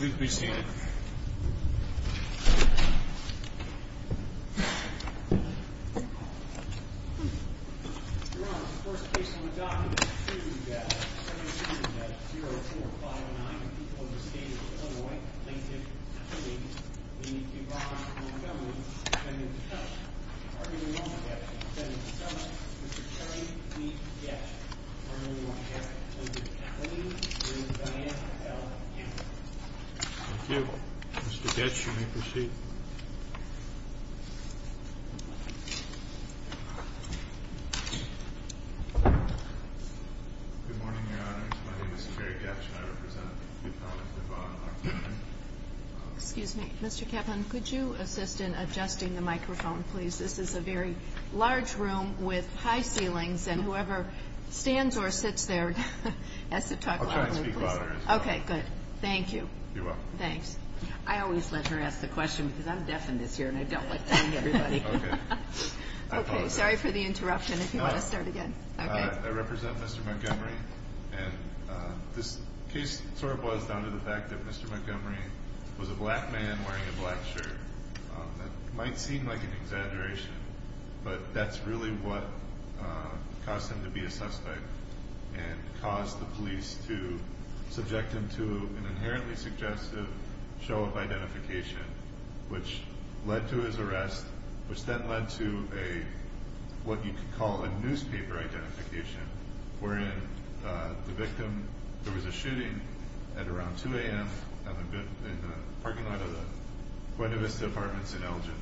We appreciate it. Thank you. Mr. Goetsch, you may proceed. Good morning, Your Honors. My name is Jerry Goetsch, and I represent the appellant, Duvall. Excuse me. Mr. Kaplan, could you assist in adjusting the microphone, please? This is a very large room with high ceilings, and whoever stands or sits there has to talk loudly. I'll try and speak louder as well. Okay, good. Thank you. You're welcome. Thanks. I always let her ask the question, because I'm deaf in this ear, and I don't like telling everybody. Okay. Sorry for the interruption, if you want to start again. I represent Mr. Montgomery, and this case sort of boils down to the fact that Mr. Montgomery was a black man wearing a black shirt. That might seem like an exaggeration, but that's really what caused him to be a suspect and caused the police to subject him to an inherently suggestive show of identification, which led to his arrest, which then led to what you could call a newspaper identification, wherein the victim—there was a shooting at around 2 a.m. in the parking lot of the Buena Vista Apartments in Elgin,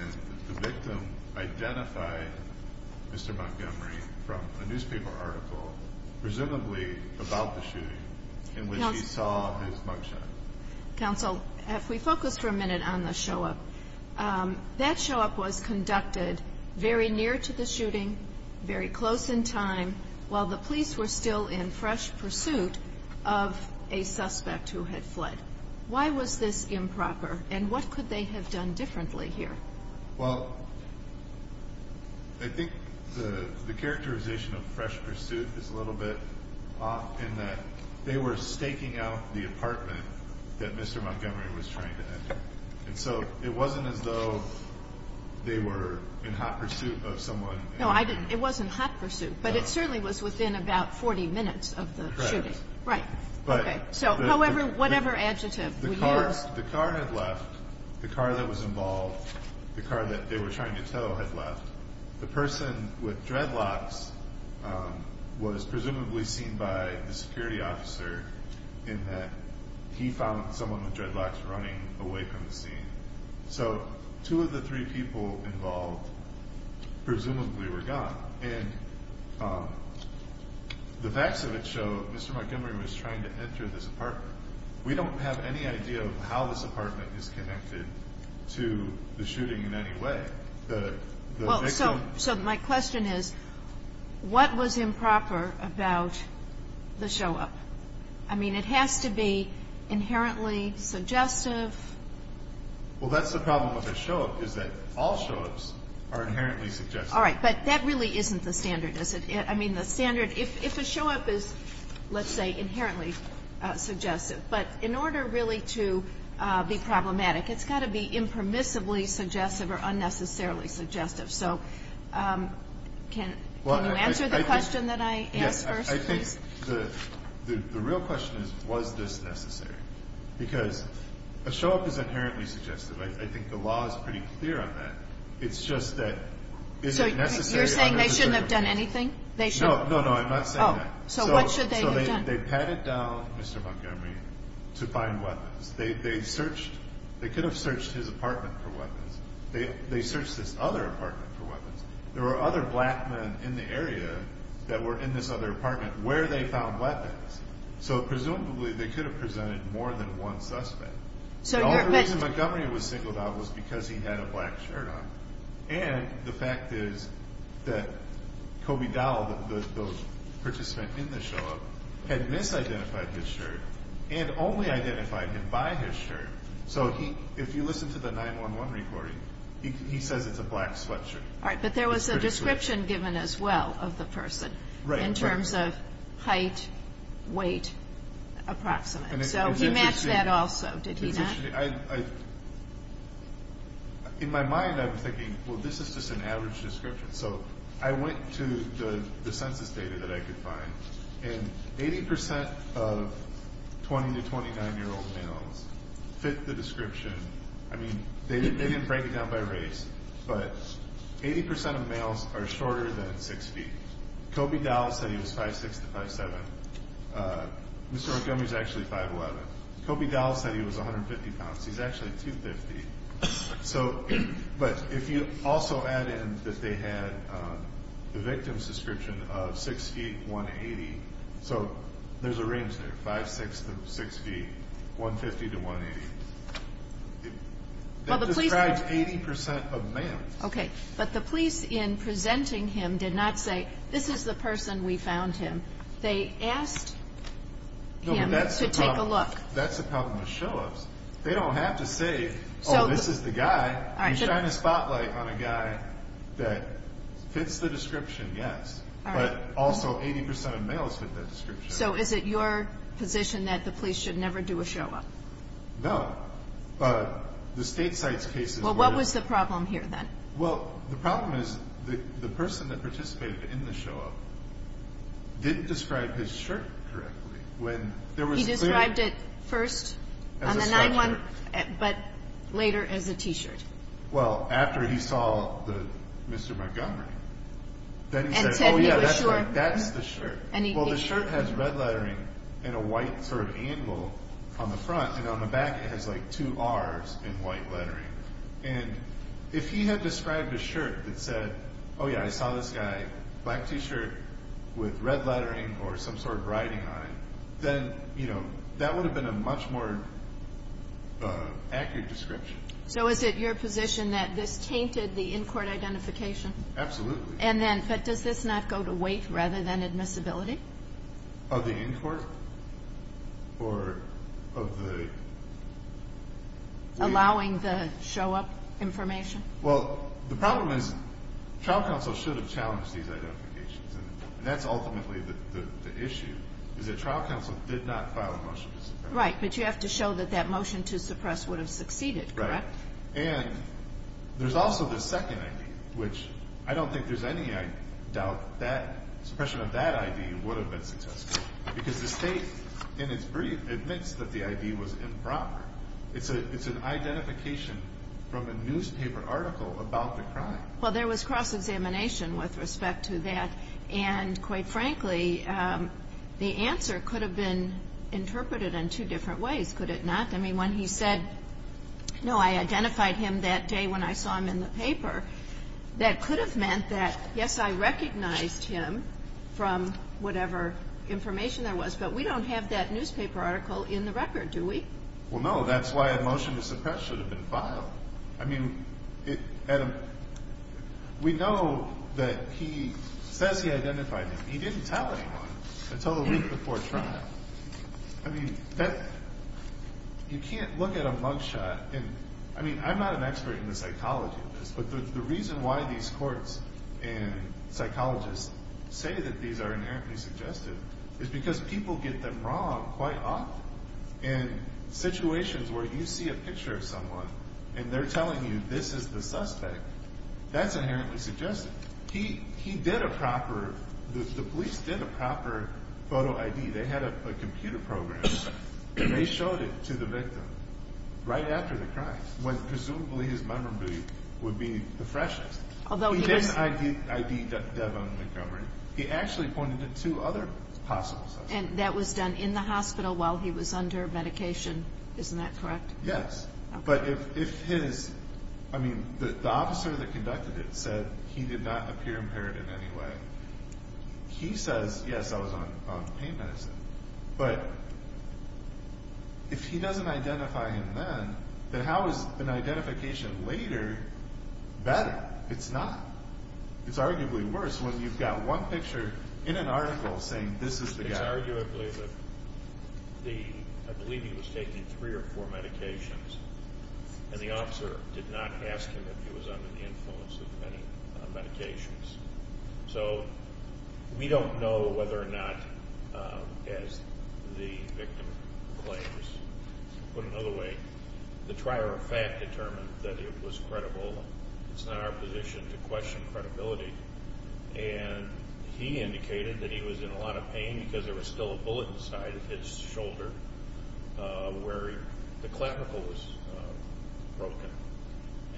and the victim identified Mr. Montgomery from a newspaper article, presumably about the shooting, in which he saw his mug shot. Counsel, if we focus for a minute on the show-up, that show-up was conducted very near to the shooting, very close in time, while the police were still in fresh pursuit of a suspect who had fled. Why was this improper, and what could they have done differently here? Well, I think the characterization of fresh pursuit is a little bit off, in that they were staking out the apartment that Mr. Montgomery was trying to enter, and so it wasn't as though they were in hot pursuit of someone. No, it wasn't hot pursuit, but it certainly was within about 40 minutes of the shooting. Right. So however, whatever adjective would you use? The car had left, the car that was involved, the car that they were trying to tow had left. The person with dreadlocks was presumably seen by the security officer, in that he found someone with dreadlocks running away from the scene. So two of the three people involved presumably were gone. And the facts of it show Mr. Montgomery was trying to enter this apartment. We don't have any idea of how this apartment is connected to the shooting in any way. Well, so my question is, what was improper about the show-up? I mean, it has to be inherently suggestive. Well, that's the problem with a show-up, is that all show-ups are inherently suggestive. All right. But that really isn't the standard, is it? I mean, the standard, if a show-up is, let's say, inherently suggestive, but in order really to be problematic, it's got to be impermissibly suggestive or unnecessarily suggestive. So can you answer the question that I asked first, please? Yes. I think the real question is, was this necessary? Because a show-up is inherently suggestive. I think the law is pretty clear on that. It's just that is it necessary unnecessarily? So you're saying they shouldn't have done anything? No, no, no. I'm not saying that. Oh. So what should they have done? So they patted down Mr. Montgomery to find weapons. They could have searched his apartment for weapons. They searched this other apartment for weapons. There were other black men in the area that were in this other apartment where they found weapons. So presumably they could have presented more than one suspect. The only reason Montgomery was singled out was because he had a black shirt on. And the fact is that Kobe Dowell, the participant in the show-up, had misidentified his shirt and only identified him by his shirt. So if you listen to the 911 recording, he says it's a black sweatshirt. All right. But there was a description given as well of the person in terms of height, weight, approximate. So he matched that also, did he not? In my mind I was thinking, well, this is just an average description. So I went to the census data that I could find, and 80% of 20 to 29-year-old males fit the description. I mean, they didn't break it down by race, but 80% of males are shorter than 6 feet. Kobe Dowell said he was 5'6 to 5'7. Mr. Montgomery is actually 5'11. Kobe Dowell said he was 150 pounds. He's actually 250. So but if you also add in that they had the victim's description of 6 feet, 180. So there's a range there, 5'6 to 6 feet, 150 to 180. It describes 80% of males. Okay. But the police in presenting him did not say, this is the person, we found him. They asked him to take a look. No, but that's the problem with show-ups. They don't have to say, oh, this is the guy. You shine a spotlight on a guy that fits the description, yes, but also 80% of males fit that description. So is it your position that the police should never do a show-up? No, but the state site's case is where it is. Well, what was the problem here then? Well, the problem is the person that participated in the show-up didn't describe his shirt correctly. He described it first on the 9-1, but later as a T-shirt. Well, after he saw Mr. Montgomery, then he said, oh, yeah, that's the shirt. Well, the shirt has red lettering and a white sort of angle on the front, and on the back it has like two R's in white lettering. And if he had described a shirt that said, oh, yeah, I saw this guy, black T-shirt with red lettering or some sort of writing on it, then, you know, that would have been a much more accurate description. So is it your position that this tainted the in-court identification? Absolutely. And then does this not go to weight rather than admissibility? Of the in-court or of the weight? Allowing the show-up information? Well, the problem is trial counsel should have challenged these identifications, and that's ultimately the issue is that trial counsel did not file a motion to suppress. Right, but you have to show that that motion to suppress would have succeeded, correct? Right. And there's also the second ID, which I don't think there's any doubt that suppression of that ID would have been successful because the State in its brief admits that the ID was improper. It's an identification from a newspaper article about the crime. Well, there was cross-examination with respect to that, and quite frankly the answer could have been interpreted in two different ways, could it not? I mean, when he said, no, I identified him that day when I saw him in the paper, that could have meant that, yes, I recognized him from whatever information there was, but we don't have that newspaper article in the record, do we? Well, no, that's why a motion to suppress should have been filed. I mean, we know that he says he identified him. He didn't tell anyone until a week before trial. I mean, you can't look at a mugshot and, I mean, I'm not an expert in the psychology of this, but the reason why these courts and psychologists say that these are inherently suggestive is because people get them wrong quite often. In situations where you see a picture of someone and they're telling you this is the suspect, that's inherently suggestive. He did a proper, the police did a proper photo ID. They had a computer program and they showed it to the victim right after the crime, when presumably his memory would be the freshest. He didn't ID Devon Montgomery. He actually pointed to two other possible suspects. And that was done in the hospital while he was under medication. Isn't that correct? Yes. But if his, I mean, the officer that conducted it said he did not appear impaired in any way. He says, yes, I was on pain medicine. But if he doesn't identify him then, then how is an identification later better? It's not. It's arguably worse when you've got one picture in an article saying this is the guy. It's arguably that the, I believe he was taking three or four medications, and the officer did not ask him if he was under the influence of any medications. So we don't know whether or not, as the victim claims, put another way, the trier of fact determined that it was credible. It's not our position to question credibility. And he indicated that he was in a lot of pain because there was still a bullet inside his shoulder where the clavicle was broken.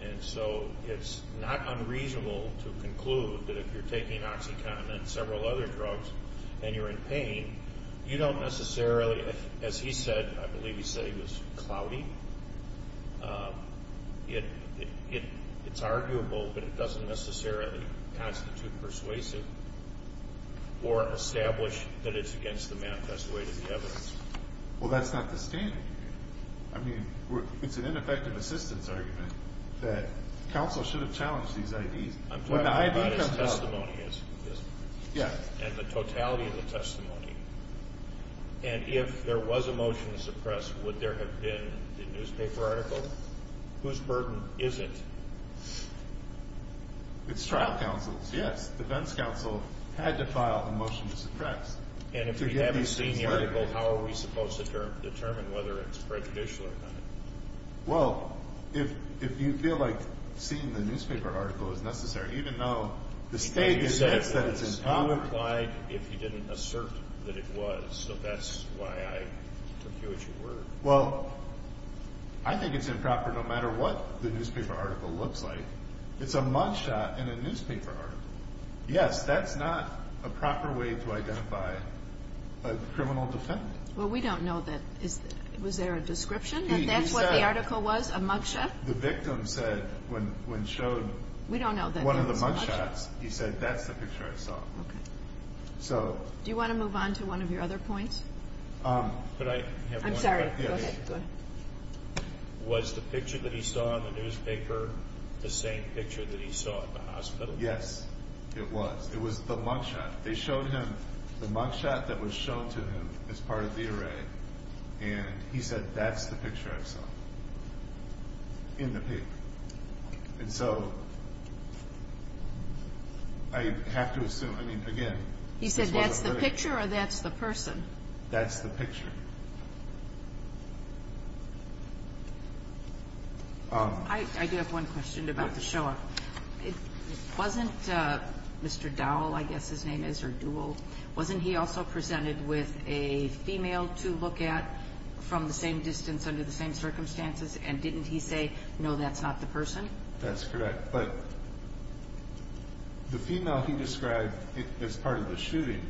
And so it's not unreasonable to conclude that if you're taking OxyContin and several other drugs and you're in pain, you don't necessarily, as he said, I believe he said he was cloudy, it's arguable, but it doesn't necessarily constitute persuasive or establish that it's against the manifest way to the evidence. Well, that's not the standard. I mean, it's an ineffective assistance argument that counsel should have challenged these IDs. I'm talking about his testimony. Yes. And the totality of the testimony. And if there was a motion to suppress, would there have been a newspaper article whose burden is it? It's trial counsel's. Yes. Defense counsel had to file a motion to suppress. And if we haven't seen the article, how are we supposed to determine whether it's prejudicial or not? Well, if you feel like seeing the newspaper article is necessary, even though the state has said it's improper. You implied if you didn't assert that it was, so that's why I took you at your word. Well, I think it's improper no matter what the newspaper article looks like. It's a mug shot in a newspaper article. Yes, that's not a proper way to identify a criminal defendant. Well, we don't know that. Was there a description that that's what the article was, a mug shot? The victim said when showed one of the mug shots, he said that's the picture I saw. Okay. So. Do you want to move on to one of your other points? Could I have one? I'm sorry. Go ahead. Was the picture that he saw in the newspaper the same picture that he saw in the hospital? Yes, it was. It was the mug shot. They showed him the mug shot that was shown to him as part of the array, and he said that's the picture I saw in the paper. And so I have to assume, I mean, again. He said that's the picture or that's the person? That's the picture. I do have one question about the show up. It wasn't Mr. Dowell, I guess his name is, or Duell. Wasn't he also presented with a female to look at from the same distance under the same circumstances? And didn't he say, no, that's not the person? That's correct. But the female he described as part of the shooting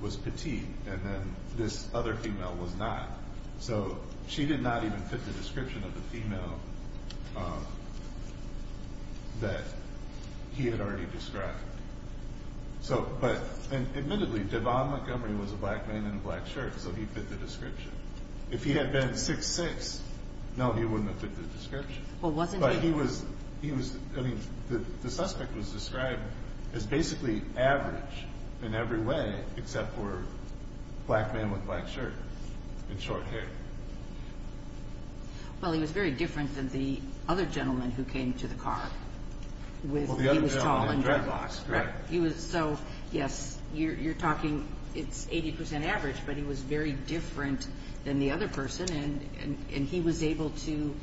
was petite, and then this other female was not. So she did not even fit the description of the female that he had already described. But admittedly, Devon Montgomery was a black man in a black shirt, so he fit the description. If he had been 6'6", no, he wouldn't have fit the description. Well, wasn't he? But he was, I mean, the suspect was described as basically average in every way except for black man with black shirt and short hair. Well, he was very different than the other gentleman who came to the car. Well, the other gentleman had dreadlocks, correct. Yes, you're talking, it's 80% average, but he was very different than the other person, and he was able to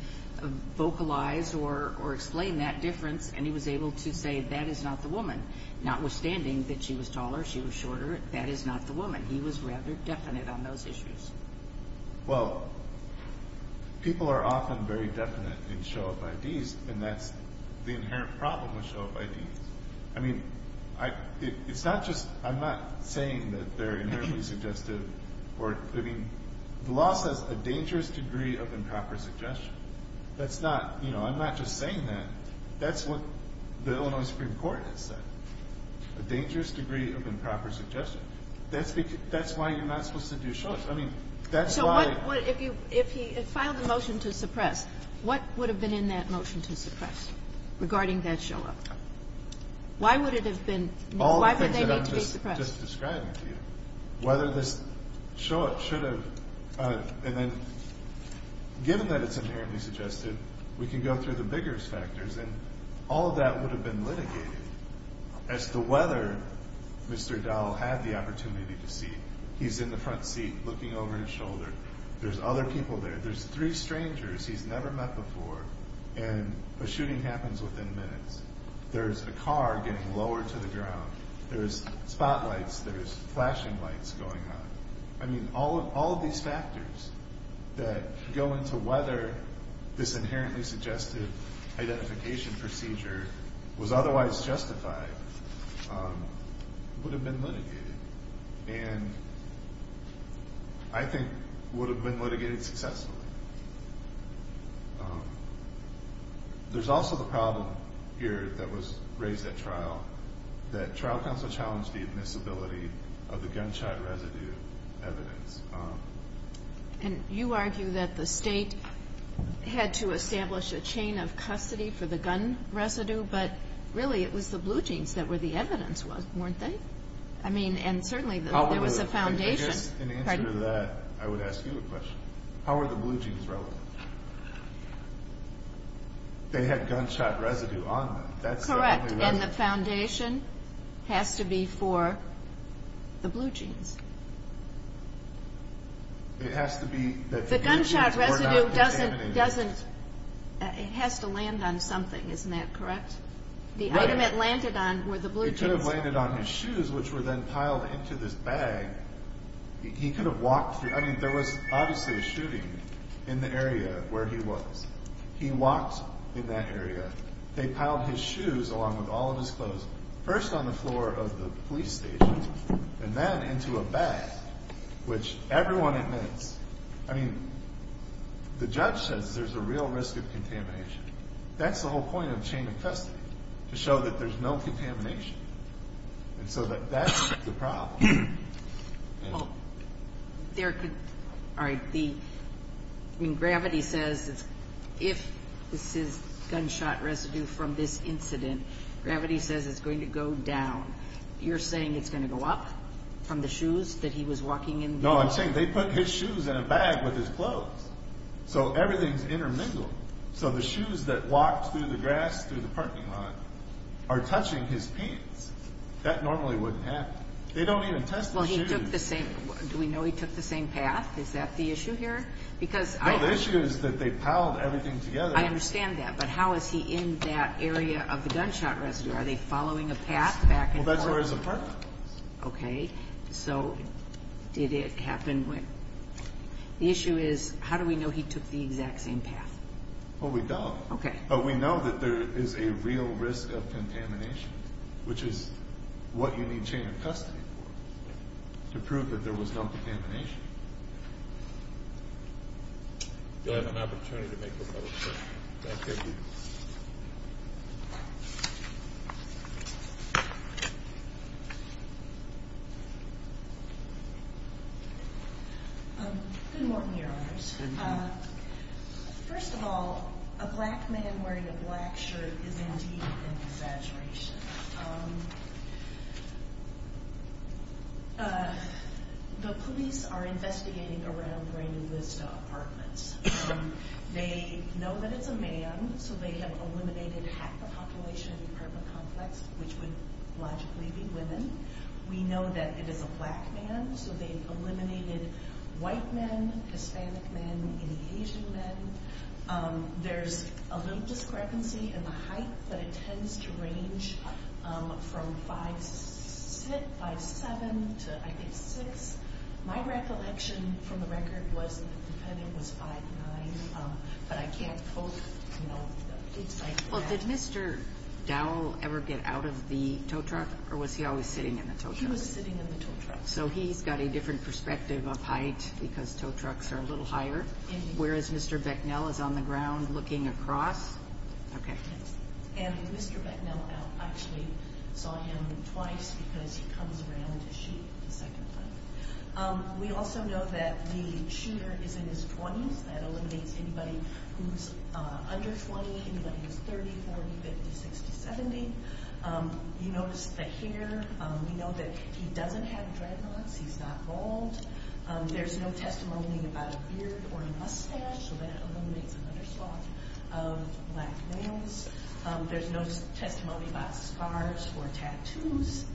vocalize or explain that difference, and he was able to say, that is not the woman. Notwithstanding that she was taller, she was shorter, that is not the woman. He was rather definite on those issues. Well, people are often very definite in show of IDs, and that's the inherent problem with show of IDs. I mean, it's not just, I'm not saying that they're inherently suggestive or, I mean, the law says a dangerous degree of improper suggestion. That's not, you know, I'm not just saying that. That's what the Illinois Supreme Court has said, a dangerous degree of improper suggestion. That's why you're not supposed to do shows. I mean, that's why. If he had filed a motion to suppress, what would have been in that motion to suppress regarding that show-up? Why would it have been, why would they need to be suppressed? All the things that I'm just describing to you, whether this show-up should have, and then given that it's inherently suggestive, we can go through the bigger factors, and all of that would have been litigated as to whether Mr. Dowell had the opportunity to see he's in the front seat looking over his shoulder. There's other people there. There's three strangers he's never met before, and a shooting happens within minutes. There's a car getting lowered to the ground. There's spotlights. There's flashing lights going on. I mean, all of these factors that go into whether this inherently suggestive identification procedure was otherwise justified would have been litigated and I think would have been litigated successfully. There's also the problem here that was raised at trial, that trial counsel challenged the admissibility of the gunshot residue evidence. And you argue that the state had to establish a chain of custody for the gun residue, but really it was the blue jeans that were the evidence, weren't they? I mean, and certainly there was a foundation. In answer to that, I would ask you a question. How are the blue jeans relevant? They had gunshot residue on them. Correct, and the foundation has to be for the blue jeans. The gunshot residue has to land on something, isn't that correct? The item it landed on were the blue jeans. It could have landed on his shoes, which were then piled into this bag. He could have walked through. I mean, there was obviously a shooting in the area where he was. He walked in that area. They piled his shoes along with all of his clothes, first on the floor of the police station and then into a bag, which everyone admits. I mean, the judge says there's a real risk of contamination. That's the whole point of chain of custody, to show that there's no contamination. And so that's the problem. All right. Gravity says if this is gunshot residue from this incident, Gravity says it's going to go down. You're saying it's going to go up from the shoes that he was walking in? No, I'm saying they put his shoes in a bag with his clothes, so everything's intermingled. So the shoes that walked through the grass through the parking lot are touching his pants. That normally wouldn't happen. They don't even test the shoes. Well, he took the same – do we know he took the same path? Is that the issue here? No, the issue is that they piled everything together. I understand that, but how is he in that area of the gunshot residue? Are they following a path back and forth? Well, that's where his apartment is. Okay. So did it happen when – the issue is how do we know he took the exact same path? Well, we don't. Okay. But we know that there is a real risk of contamination, which is what you need chain of custody for, to prove that there was no contamination. Thank you. You'll have an opportunity to make a motion. Thank you. Good morning, Your Honors. First of all, a black man wearing a black shirt is indeed an exaggeration. The police are investigating around Brandon Lista Apartments. They know that it's a man, so they have eliminated half the population of the apartment complex, which would logically be women. We know that it is a black man, so they eliminated white men, Hispanic men, any Asian men. There's a little discrepancy in the height, but it tends to range from 5'7 to, I think, 6'. My recollection from the record was the defendant was 5'9, but I can't quote, you know, things like that. Well, did Mr. Dowell ever get out of the tow truck, or was he always sitting in the tow truck? He was sitting in the tow truck. So he's got a different perspective of height because tow trucks are a little higher, whereas Mr. Becknell is on the ground looking across. Okay. And Mr. Becknell actually saw him twice because he comes around to shoot a second time. We also know that the shooter is in his 20s. That eliminates anybody who's under 20, anybody who's 30, 40, 50, 60, 70. You notice the hair. We know that he doesn't have dreadlocks. He's not bald. There's no testimony about a beard or a mustache, so that eliminates another spot of black nails. There's no testimony about scars or tattoos.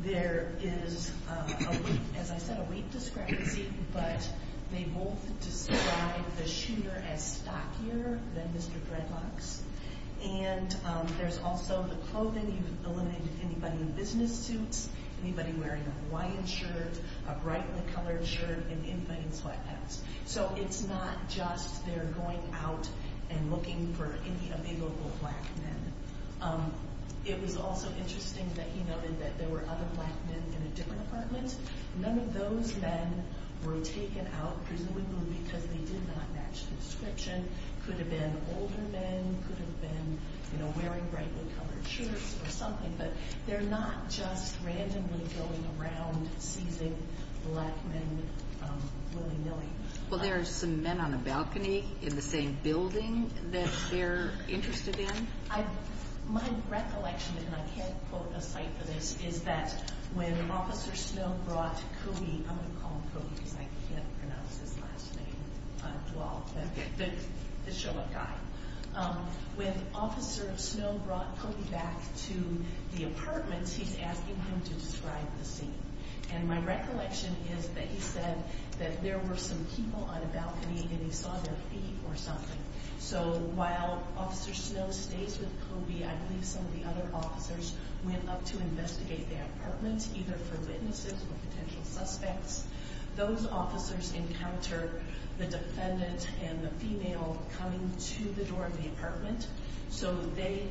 There is, as I said, a weight discrepancy, but they both describe the shooter as stockier than Mr. Dreadlocks. And there's also the clothing. You've eliminated anybody in business suits, anybody wearing a Hawaiian shirt, a brightly colored shirt, and anybody in sweatpants. So it's not just they're going out and looking for any of the local black men. It was also interesting that he noted that there were other black men in a different apartment. None of those men were taken out, presumably because they did not match the description. Could have been older men, could have been wearing brightly colored shirts or something, but they're not just randomly going around seizing black men willy-nilly. Well, there are some men on a balcony in the same building that they're interested in. My recollection, and I can't quote a site for this, is that when Officer Snow brought Kogi, I'm going to call him Kogi because I can't pronounce his last name well, the show-up guy. When Officer Snow brought Kogi back to the apartment, he's asking him to describe the scene. And my recollection is that he said that there were some people on a balcony and he saw their feet or something. So while Officer Snow stays with Kogi, I believe some of the other officers went up to investigate the apartment, either for witnesses or potential suspects. Those officers encounter the defendant and the female coming to the door of the apartment. So they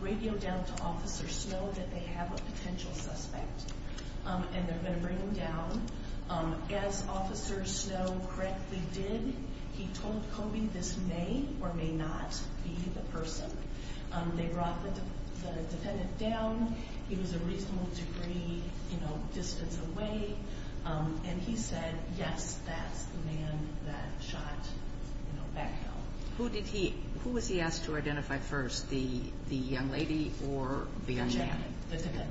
radio down to Officer Snow that they have a potential suspect, and they're going to bring him down. As Officer Snow correctly did, he told Kogi this may or may not be the person. They brought the defendant down. He was a reasonable degree distance away. And he said, yes, that's the man that shot back there. Who was he asked to identify first, the young lady or the young man? The young man, the defendant.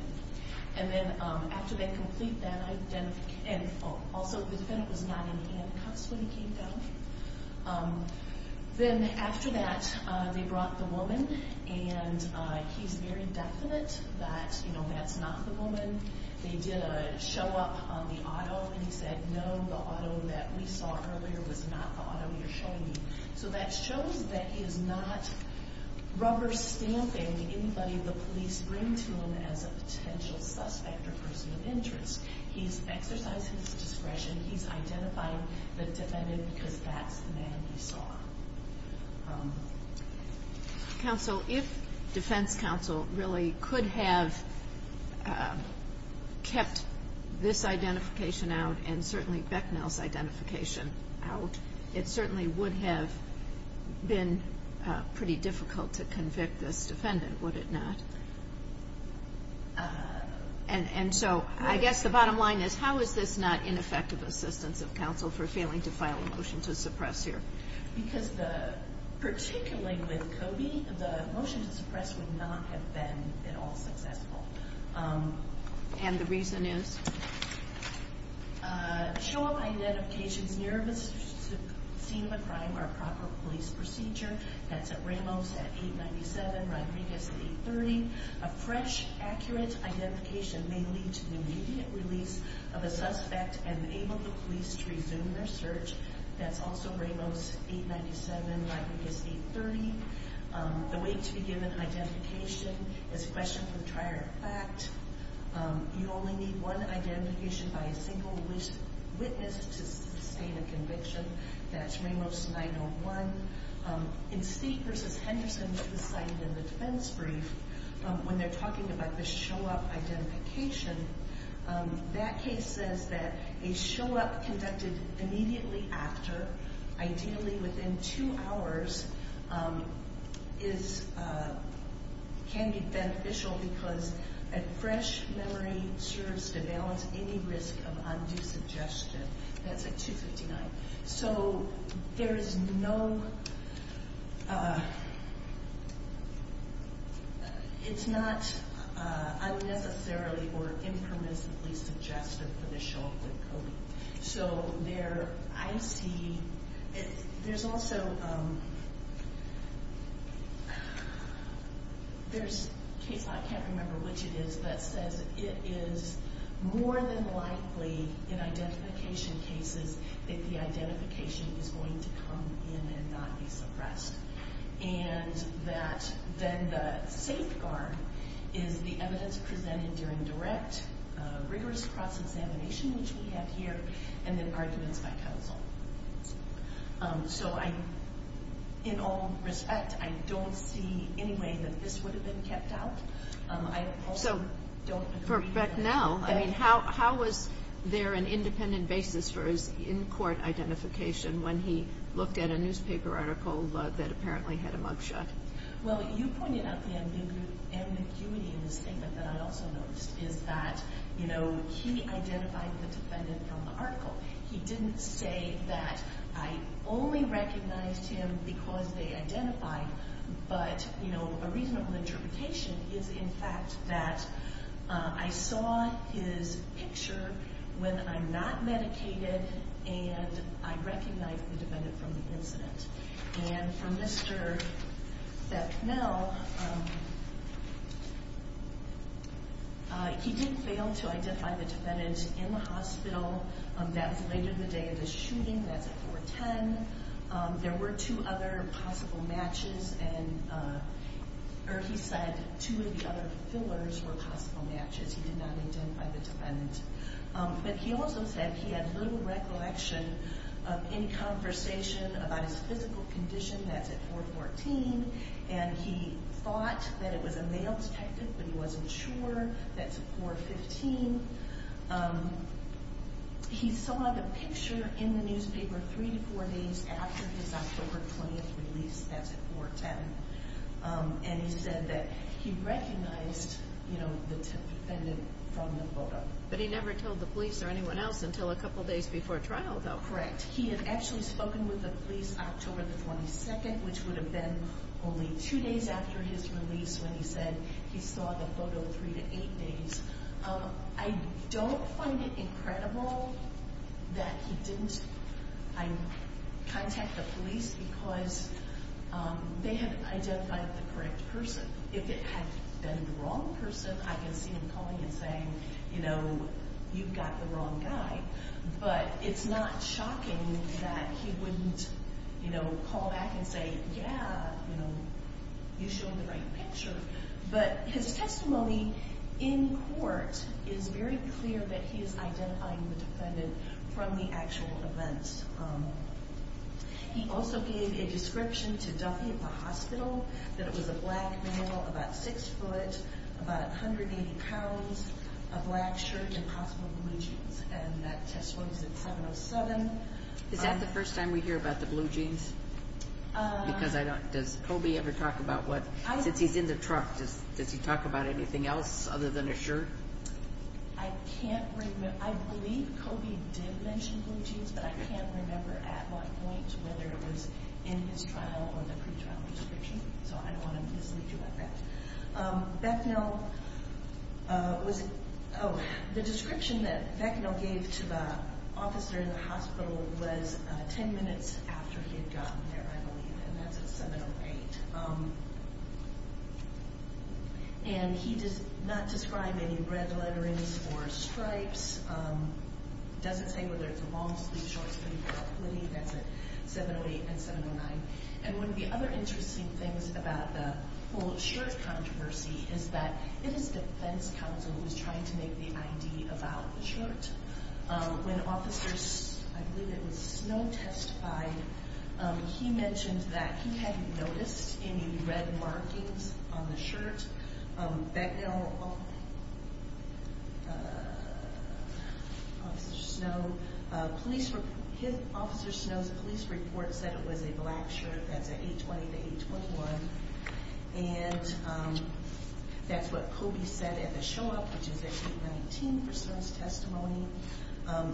And then after they complete that identification, and also the defendant was not in handcuffs when he came down. Then after that, they brought the woman, and he's very definite that that's not the woman. They did a show up on the auto, and he said, no, the auto that we saw earlier was not the auto you're showing me. So that shows that he is not rubber stamping anybody the police bring to him as a potential suspect or person of interest. He's exercised his discretion. He's identifying the defendant because that's the man he saw. Counsel, if defense counsel really could have kept this identification out and certainly Becknell's identification out, it certainly would have been pretty difficult to convict this defendant, would it not? And so I guess the bottom line is, how is this not ineffective assistance of counsel for failing to file a motion to suppress here? Because particularly with Cody, the motion to suppress would not have been at all successful. And the reason is? Show up identifications near a scene of a crime or a proper police procedure. That's at Ramos at 897 Rodriguez 830. A fresh, accurate identification may lead to the immediate release of a suspect and enable the police to resume their search. That's also Ramos 897 Rodriguez 830. The way to be given identification is questioned for the prior fact. You only need one identification by a single witness to sustain a conviction. That's Ramos 901. In Steeke v. Henderson, which was cited in the defense brief, when they're talking about the show-up identification, that case says that a show-up conducted immediately after, ideally within two hours, can be beneficial because a fresh memory serves to balance any risk of undue suggestion. That's at 259. So there is no... It's not unnecessarily or impermissibly suggestive for the show-up with Cody. So there, I see... There's also... There's a case, I can't remember which it is, that says it is more than likely in identification cases that the identification is going to come in and not be suppressed and that then the safeguard is the evidence presented during direct, rigorous cross-examination, which we have here, and then arguments by counsel. So I, in all respect, I don't see any way that this would have been kept out. I also don't agree with that. So for Brecknell, I mean, how was there an independent basis for his in-court identification when he looked at a newspaper article that apparently had a mug shot? Well, you pointed out the ambiguity in this statement that I also noticed, is that, you know, he identified the defendant from the article. He didn't say that I only recognized him because they identified, but, you know, a reasonable interpretation is, in fact, that I saw his picture when I'm not medicated and I recognized the defendant from the incident. And for Mr. Becknell, he did fail to identify the defendant in the hospital. That was later in the day of the shooting. That's at 410. There were two other possible matches, or he said two of the other fillers were possible matches. He did not identify the defendant. But he also said he had little recollection of any conversation about his physical condition. That's at 414. And he thought that it was a male detective, but he wasn't sure. That's at 415. He saw the picture in the newspaper three to four days after his October 20th release. That's at 410. And he said that he recognized, you know, the defendant from the photo. But he never told the police or anyone else until a couple days before trial, though. Correct. He had actually spoken with the police October the 22nd, which would have been only two days after his release when he said he saw the photo three to eight days. I don't find it incredible that he didn't contact the police because they had identified the correct person. If it had been the wrong person, I could see him calling and saying, you know, you've got the wrong guy. But it's not shocking that he wouldn't, you know, call back and say, yeah, you know, you showed the right picture. But his testimony in court is very clear that he is identifying the defendant from the actual events. He also gave a description to Duffy at the hospital that it was a black male, about 6 foot, about 180 pounds, a black shirt and possibly blue jeans. And that testimony is at 707. Is that the first time we hear about the blue jeans? Because I don't, does Kobe ever talk about what, since he's in the truck, does he talk about anything else other than a shirt? I can't remember. I believe Kobe did mention blue jeans, but I can't remember at what point, whether it was in his trial or the pretrial description. So I don't want to mislead you about that. Becknell was, oh, the description that Becknell gave to the officer in the hospital was 10 minutes after he had gotten there, I believe, and that's at 708. And he did not describe any red letterings or stripes, doesn't say whether it's long sleeves, short sleeves, or a hoodie. That's at 708 and 709. And one of the other interesting things about the whole shirt controversy is that it is defense counsel who's trying to make the ID about the shirt. When Officer, I believe it was Snow, testified, he mentioned that he hadn't noticed any red markings on the shirt. Becknell, Officer Snow, his, Officer Snow's police report said it was a black shirt. That's at 820 to 821. And that's what Kobe said at the show-up, which is at 819 for Snow's testimony.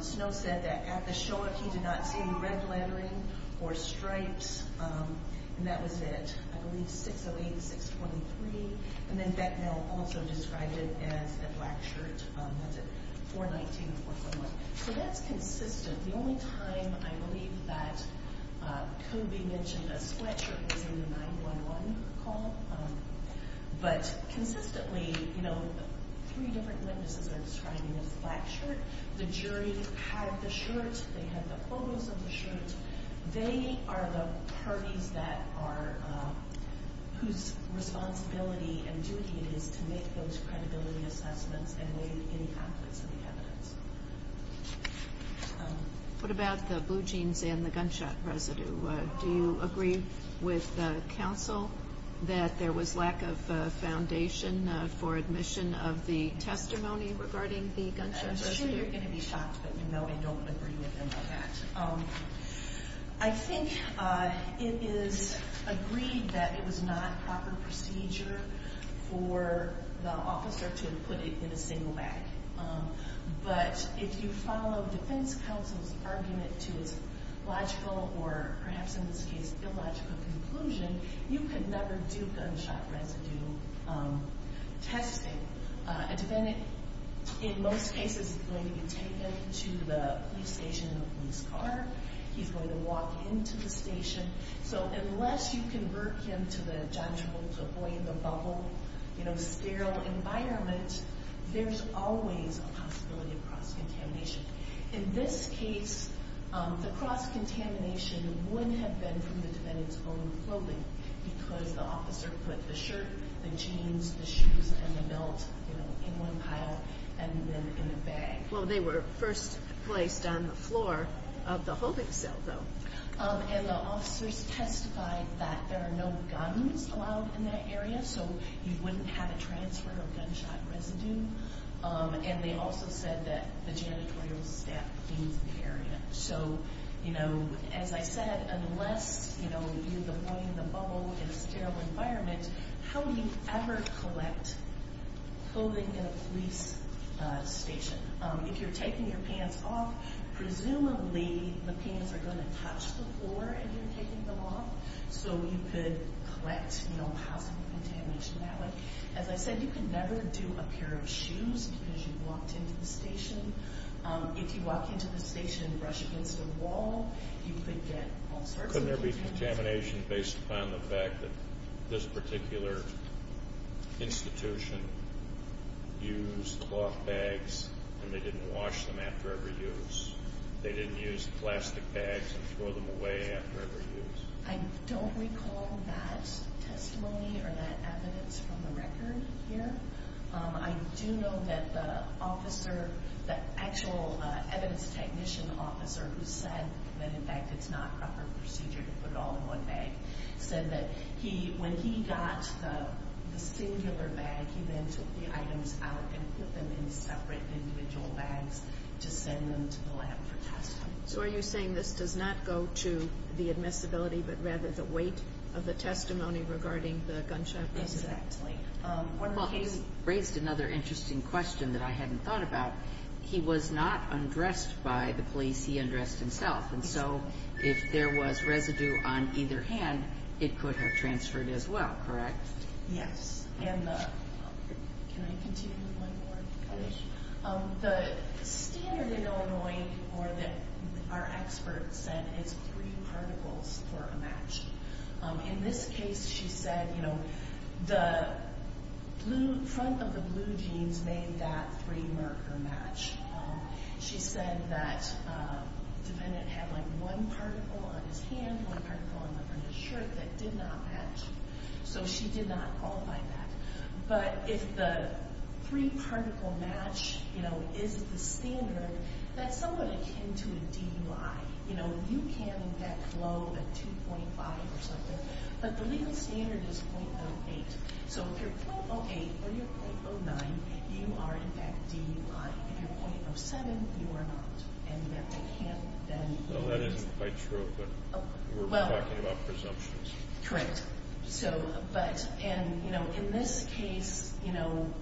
Snow said that at the show-up he did not see red lettering or stripes, and that was at, I believe, 608 and 623. And then Becknell also described it as a black shirt. That's at 419 and 411. So that's consistent. The only time I believe that Kobe mentioned a sweatshirt was in the 911 call. But consistently, you know, three different witnesses are describing it as a black shirt. The jury had the shirt. They had the photos of the shirt. They are the parties that are, whose responsibility and duty it is to make those credibility assessments and weigh any conflicts in the evidence. What about the blue jeans and the gunshot residue? Do you agree with the counsel that there was lack of foundation for admission of the testimony regarding the gunshot residue? I'm sure you're going to be shocked, but no, I don't agree with them on that. I think it is agreed that it was not proper procedure for the officer to put it in a single bag. But if you follow defense counsel's argument to its logical, or perhaps in this case, illogical conclusion, you can never do gunshot residue testing. A defendant, in most cases, is going to be taken to the police station in a police car. He's going to walk into the station. So unless you convert him to the judgmental, avoid-the-bubble, you know, sterile environment, there's always a possibility of cross-contamination. In this case, the cross-contamination wouldn't have been from the defendant's own clothing because the officer put the shirt, the jeans, the shoes, and the belt in one pile and then in a bag. Well, they were first placed on the floor of the holding cell, though. And the officers testified that there are no guns allowed in that area, so you wouldn't have a transfer of gunshot residue. And they also said that the janitorial staff cleans the area. So, you know, as I said, unless, you know, you avoid the bubble in a sterile environment, how do you ever collect clothing in a police station? If you're taking your pants off, presumably the pants are going to touch the floor if you're taking them off, so you could collect, you know, possible contamination that way. As I said, you can never do a pair of shoes because you've walked into the station. If you walk into the station and brush against the wall, you could get all sorts of contamination. Couldn't there be contamination based upon the fact that this particular institution used cloth bags and they didn't wash them after every use? They didn't use plastic bags and throw them away after every use? I don't recall that testimony or that evidence from the record here. I do know that the officer, the actual evidence technician officer, who said that, in fact, it's not proper procedure to put it all in one bag, said that when he got the singular bag, he then took the items out and put them in separate individual bags to send them to the lab for testing. So are you saying this does not go to the admissibility but rather the weight of the testimony regarding the gunshot residue? Exactly. Well, you raised another interesting question that I hadn't thought about. He was not undressed by the police, he undressed himself, and so if there was residue on either hand, it could have transferred as well, correct? Yes. The standard in Illinois, or that our experts said, is three particles for a match. In this case, she said, you know, the front of the blue jeans made that three-marker match. She said that the defendant had, like, one particle on his hand, one particle on the front of his shirt that did not match. So she did not qualify that. But if the three-particle match, you know, is the standard, that's somewhat akin to a DUI. You know, you can get low at 2.5 or something, but the legal standard is 0.08. So if you're 0.08 or you're 0.09, you are, in fact, DUI. If you're 0.07, you are not. And yet they can't then... Well, that isn't quite true, but we're talking about presumptions. Correct. So, but, and, you know, in this case, you know,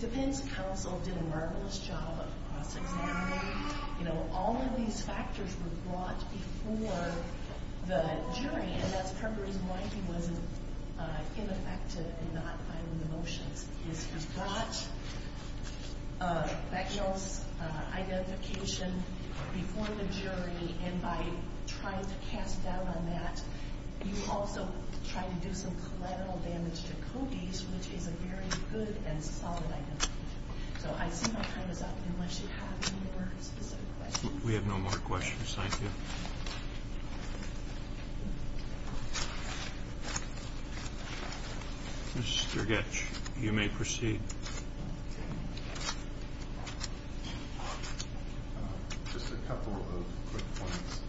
the defense counsel did a marvelous job of cross-examining. You know, all of these factors were brought before the jury, and that's part of the reason why he wasn't ineffective in not filing the motions. He's brought Becknell's identification before the jury, and by trying to cast doubt on that, you also try to do some collateral damage to Cody's, which is a very good and solid identification. So I see my time is up. Unless you have any more specific questions. We have no more questions. Thank you. Mr. Goetsch, you may proceed. Just a couple of quick points.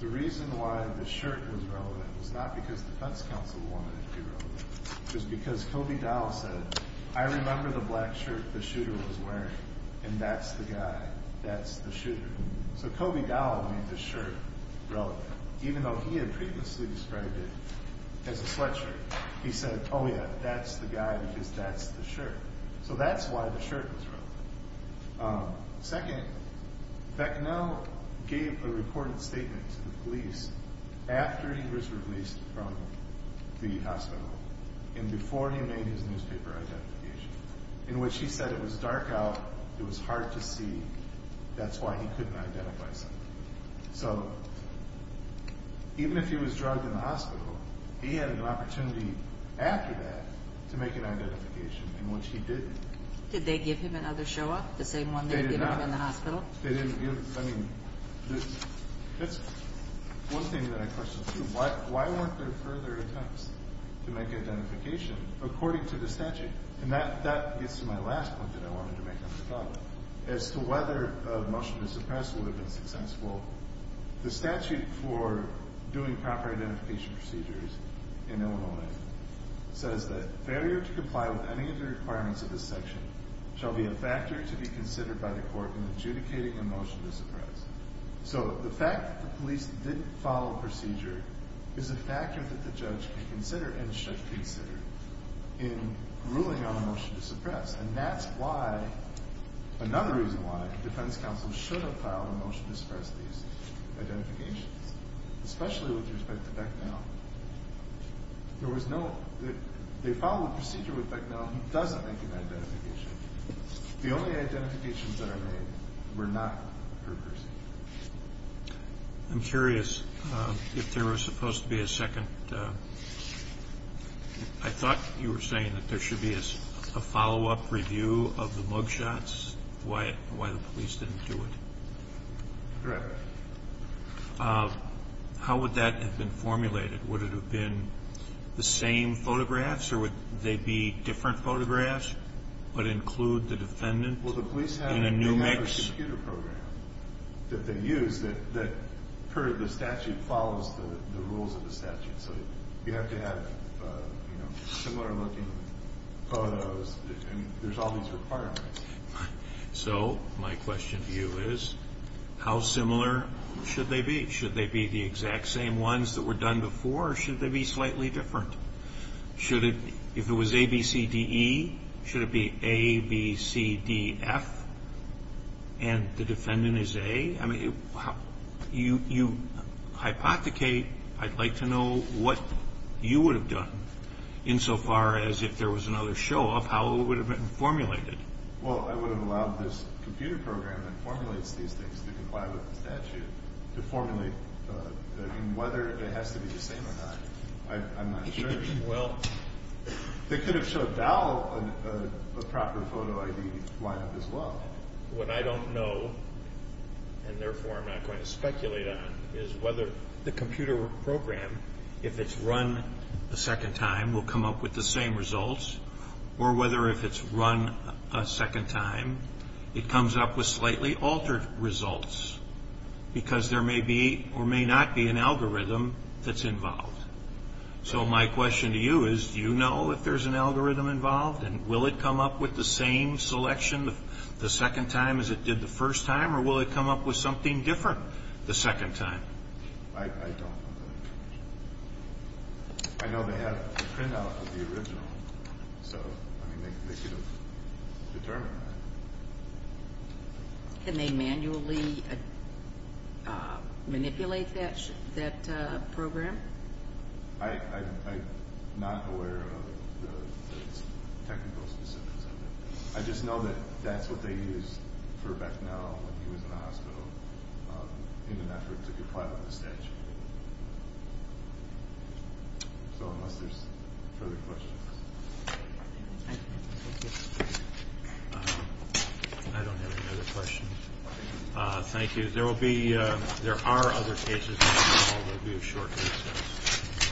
The reason why the shirt was relevant was not because the defense counsel wanted it to be relevant. It was because Cody Dowell said, I remember the black shirt the shooter was wearing, and that's the guy, that's the shooter. So Cody Dowell made the shirt relevant, even though he had previously described it as a sweatshirt. He said, oh, yeah, that's the guy because that's the shirt. So that's why the shirt was relevant. Second, Becknell gave a recorded statement to the police after he was released from the hospital and before he made his newspaper identification, in which he said it was dark out, it was hard to see. That's why he couldn't identify someone. So even if he was drugged in the hospital, he had an opportunity after that to make an identification, in which he didn't. Did they give him another show-off, the same one they had given him in the hospital? I mean, that's one thing that I question, too. Why weren't there further attempts to make identification according to the statute? And that gets to my last point that I wanted to make on this topic. As to whether a motion to suppress would have been successful, the statute for doing proper identification procedures in Illinois says that failure to comply with any of the requirements of this section shall be a factor to be considered by the court in adjudicating a motion to suppress. So the fact that the police didn't follow procedure is a factor that the judge can consider and should consider in ruling on a motion to suppress. And that's why, another reason why, the defense counsel should have filed a motion to suppress these identifications, especially with respect to Becknell. There was no... They filed a procedure with Becknell. He doesn't make an identification. The only identifications that are made were not for Percy. I'm curious if there was supposed to be a second... I thought you were saying that there should be a follow-up review of the mug shots, why the police didn't do it. Correct. How would that have been formulated? Would it have been the same photographs or would they be different photographs but include the defendant in a new mix? Well, the police have a computer program that they use that per the statute follows the rules of the statute. So you have to have similar-looking photos. There's all these requirements. So my question to you is how similar should they be? Should they be the exact same ones that were done before or should they be slightly different? If it was A, B, C, D, E, should it be A, B, C, D, F, and the defendant is A? I mean, you hypothecate. I'd like to know what you would have done insofar as if there was another show-off, how it would have been formulated. Well, I would have allowed this computer program that formulates these things to comply with the statute to formulate. I mean, whether it has to be the same or not, I'm not sure. Well. They could have showed Dowell a proper photo ID lineup as well. What I don't know, and therefore I'm not going to speculate on, is whether the computer program, if it's run a second time, will come up with the same results or whether if it's run a second time it comes up with slightly altered results because there may be or may not be an algorithm that's involved. So my question to you is do you know if there's an algorithm involved and will it come up with the same selection the second time as it did the first time or will it come up with something different the second time? I don't know. I know they have a printout of the original. So, I mean, they could have determined that. Can they manually manipulate that program? I'm not aware of the technical specifics of it. I just know that that's what they used for Bethnell when he was in the hospital in an effort to comply with the statute. So unless there's further questions. Thank you. I don't have any other questions. Thank you. There will be, there are other pages in the hall. There will be a short recess.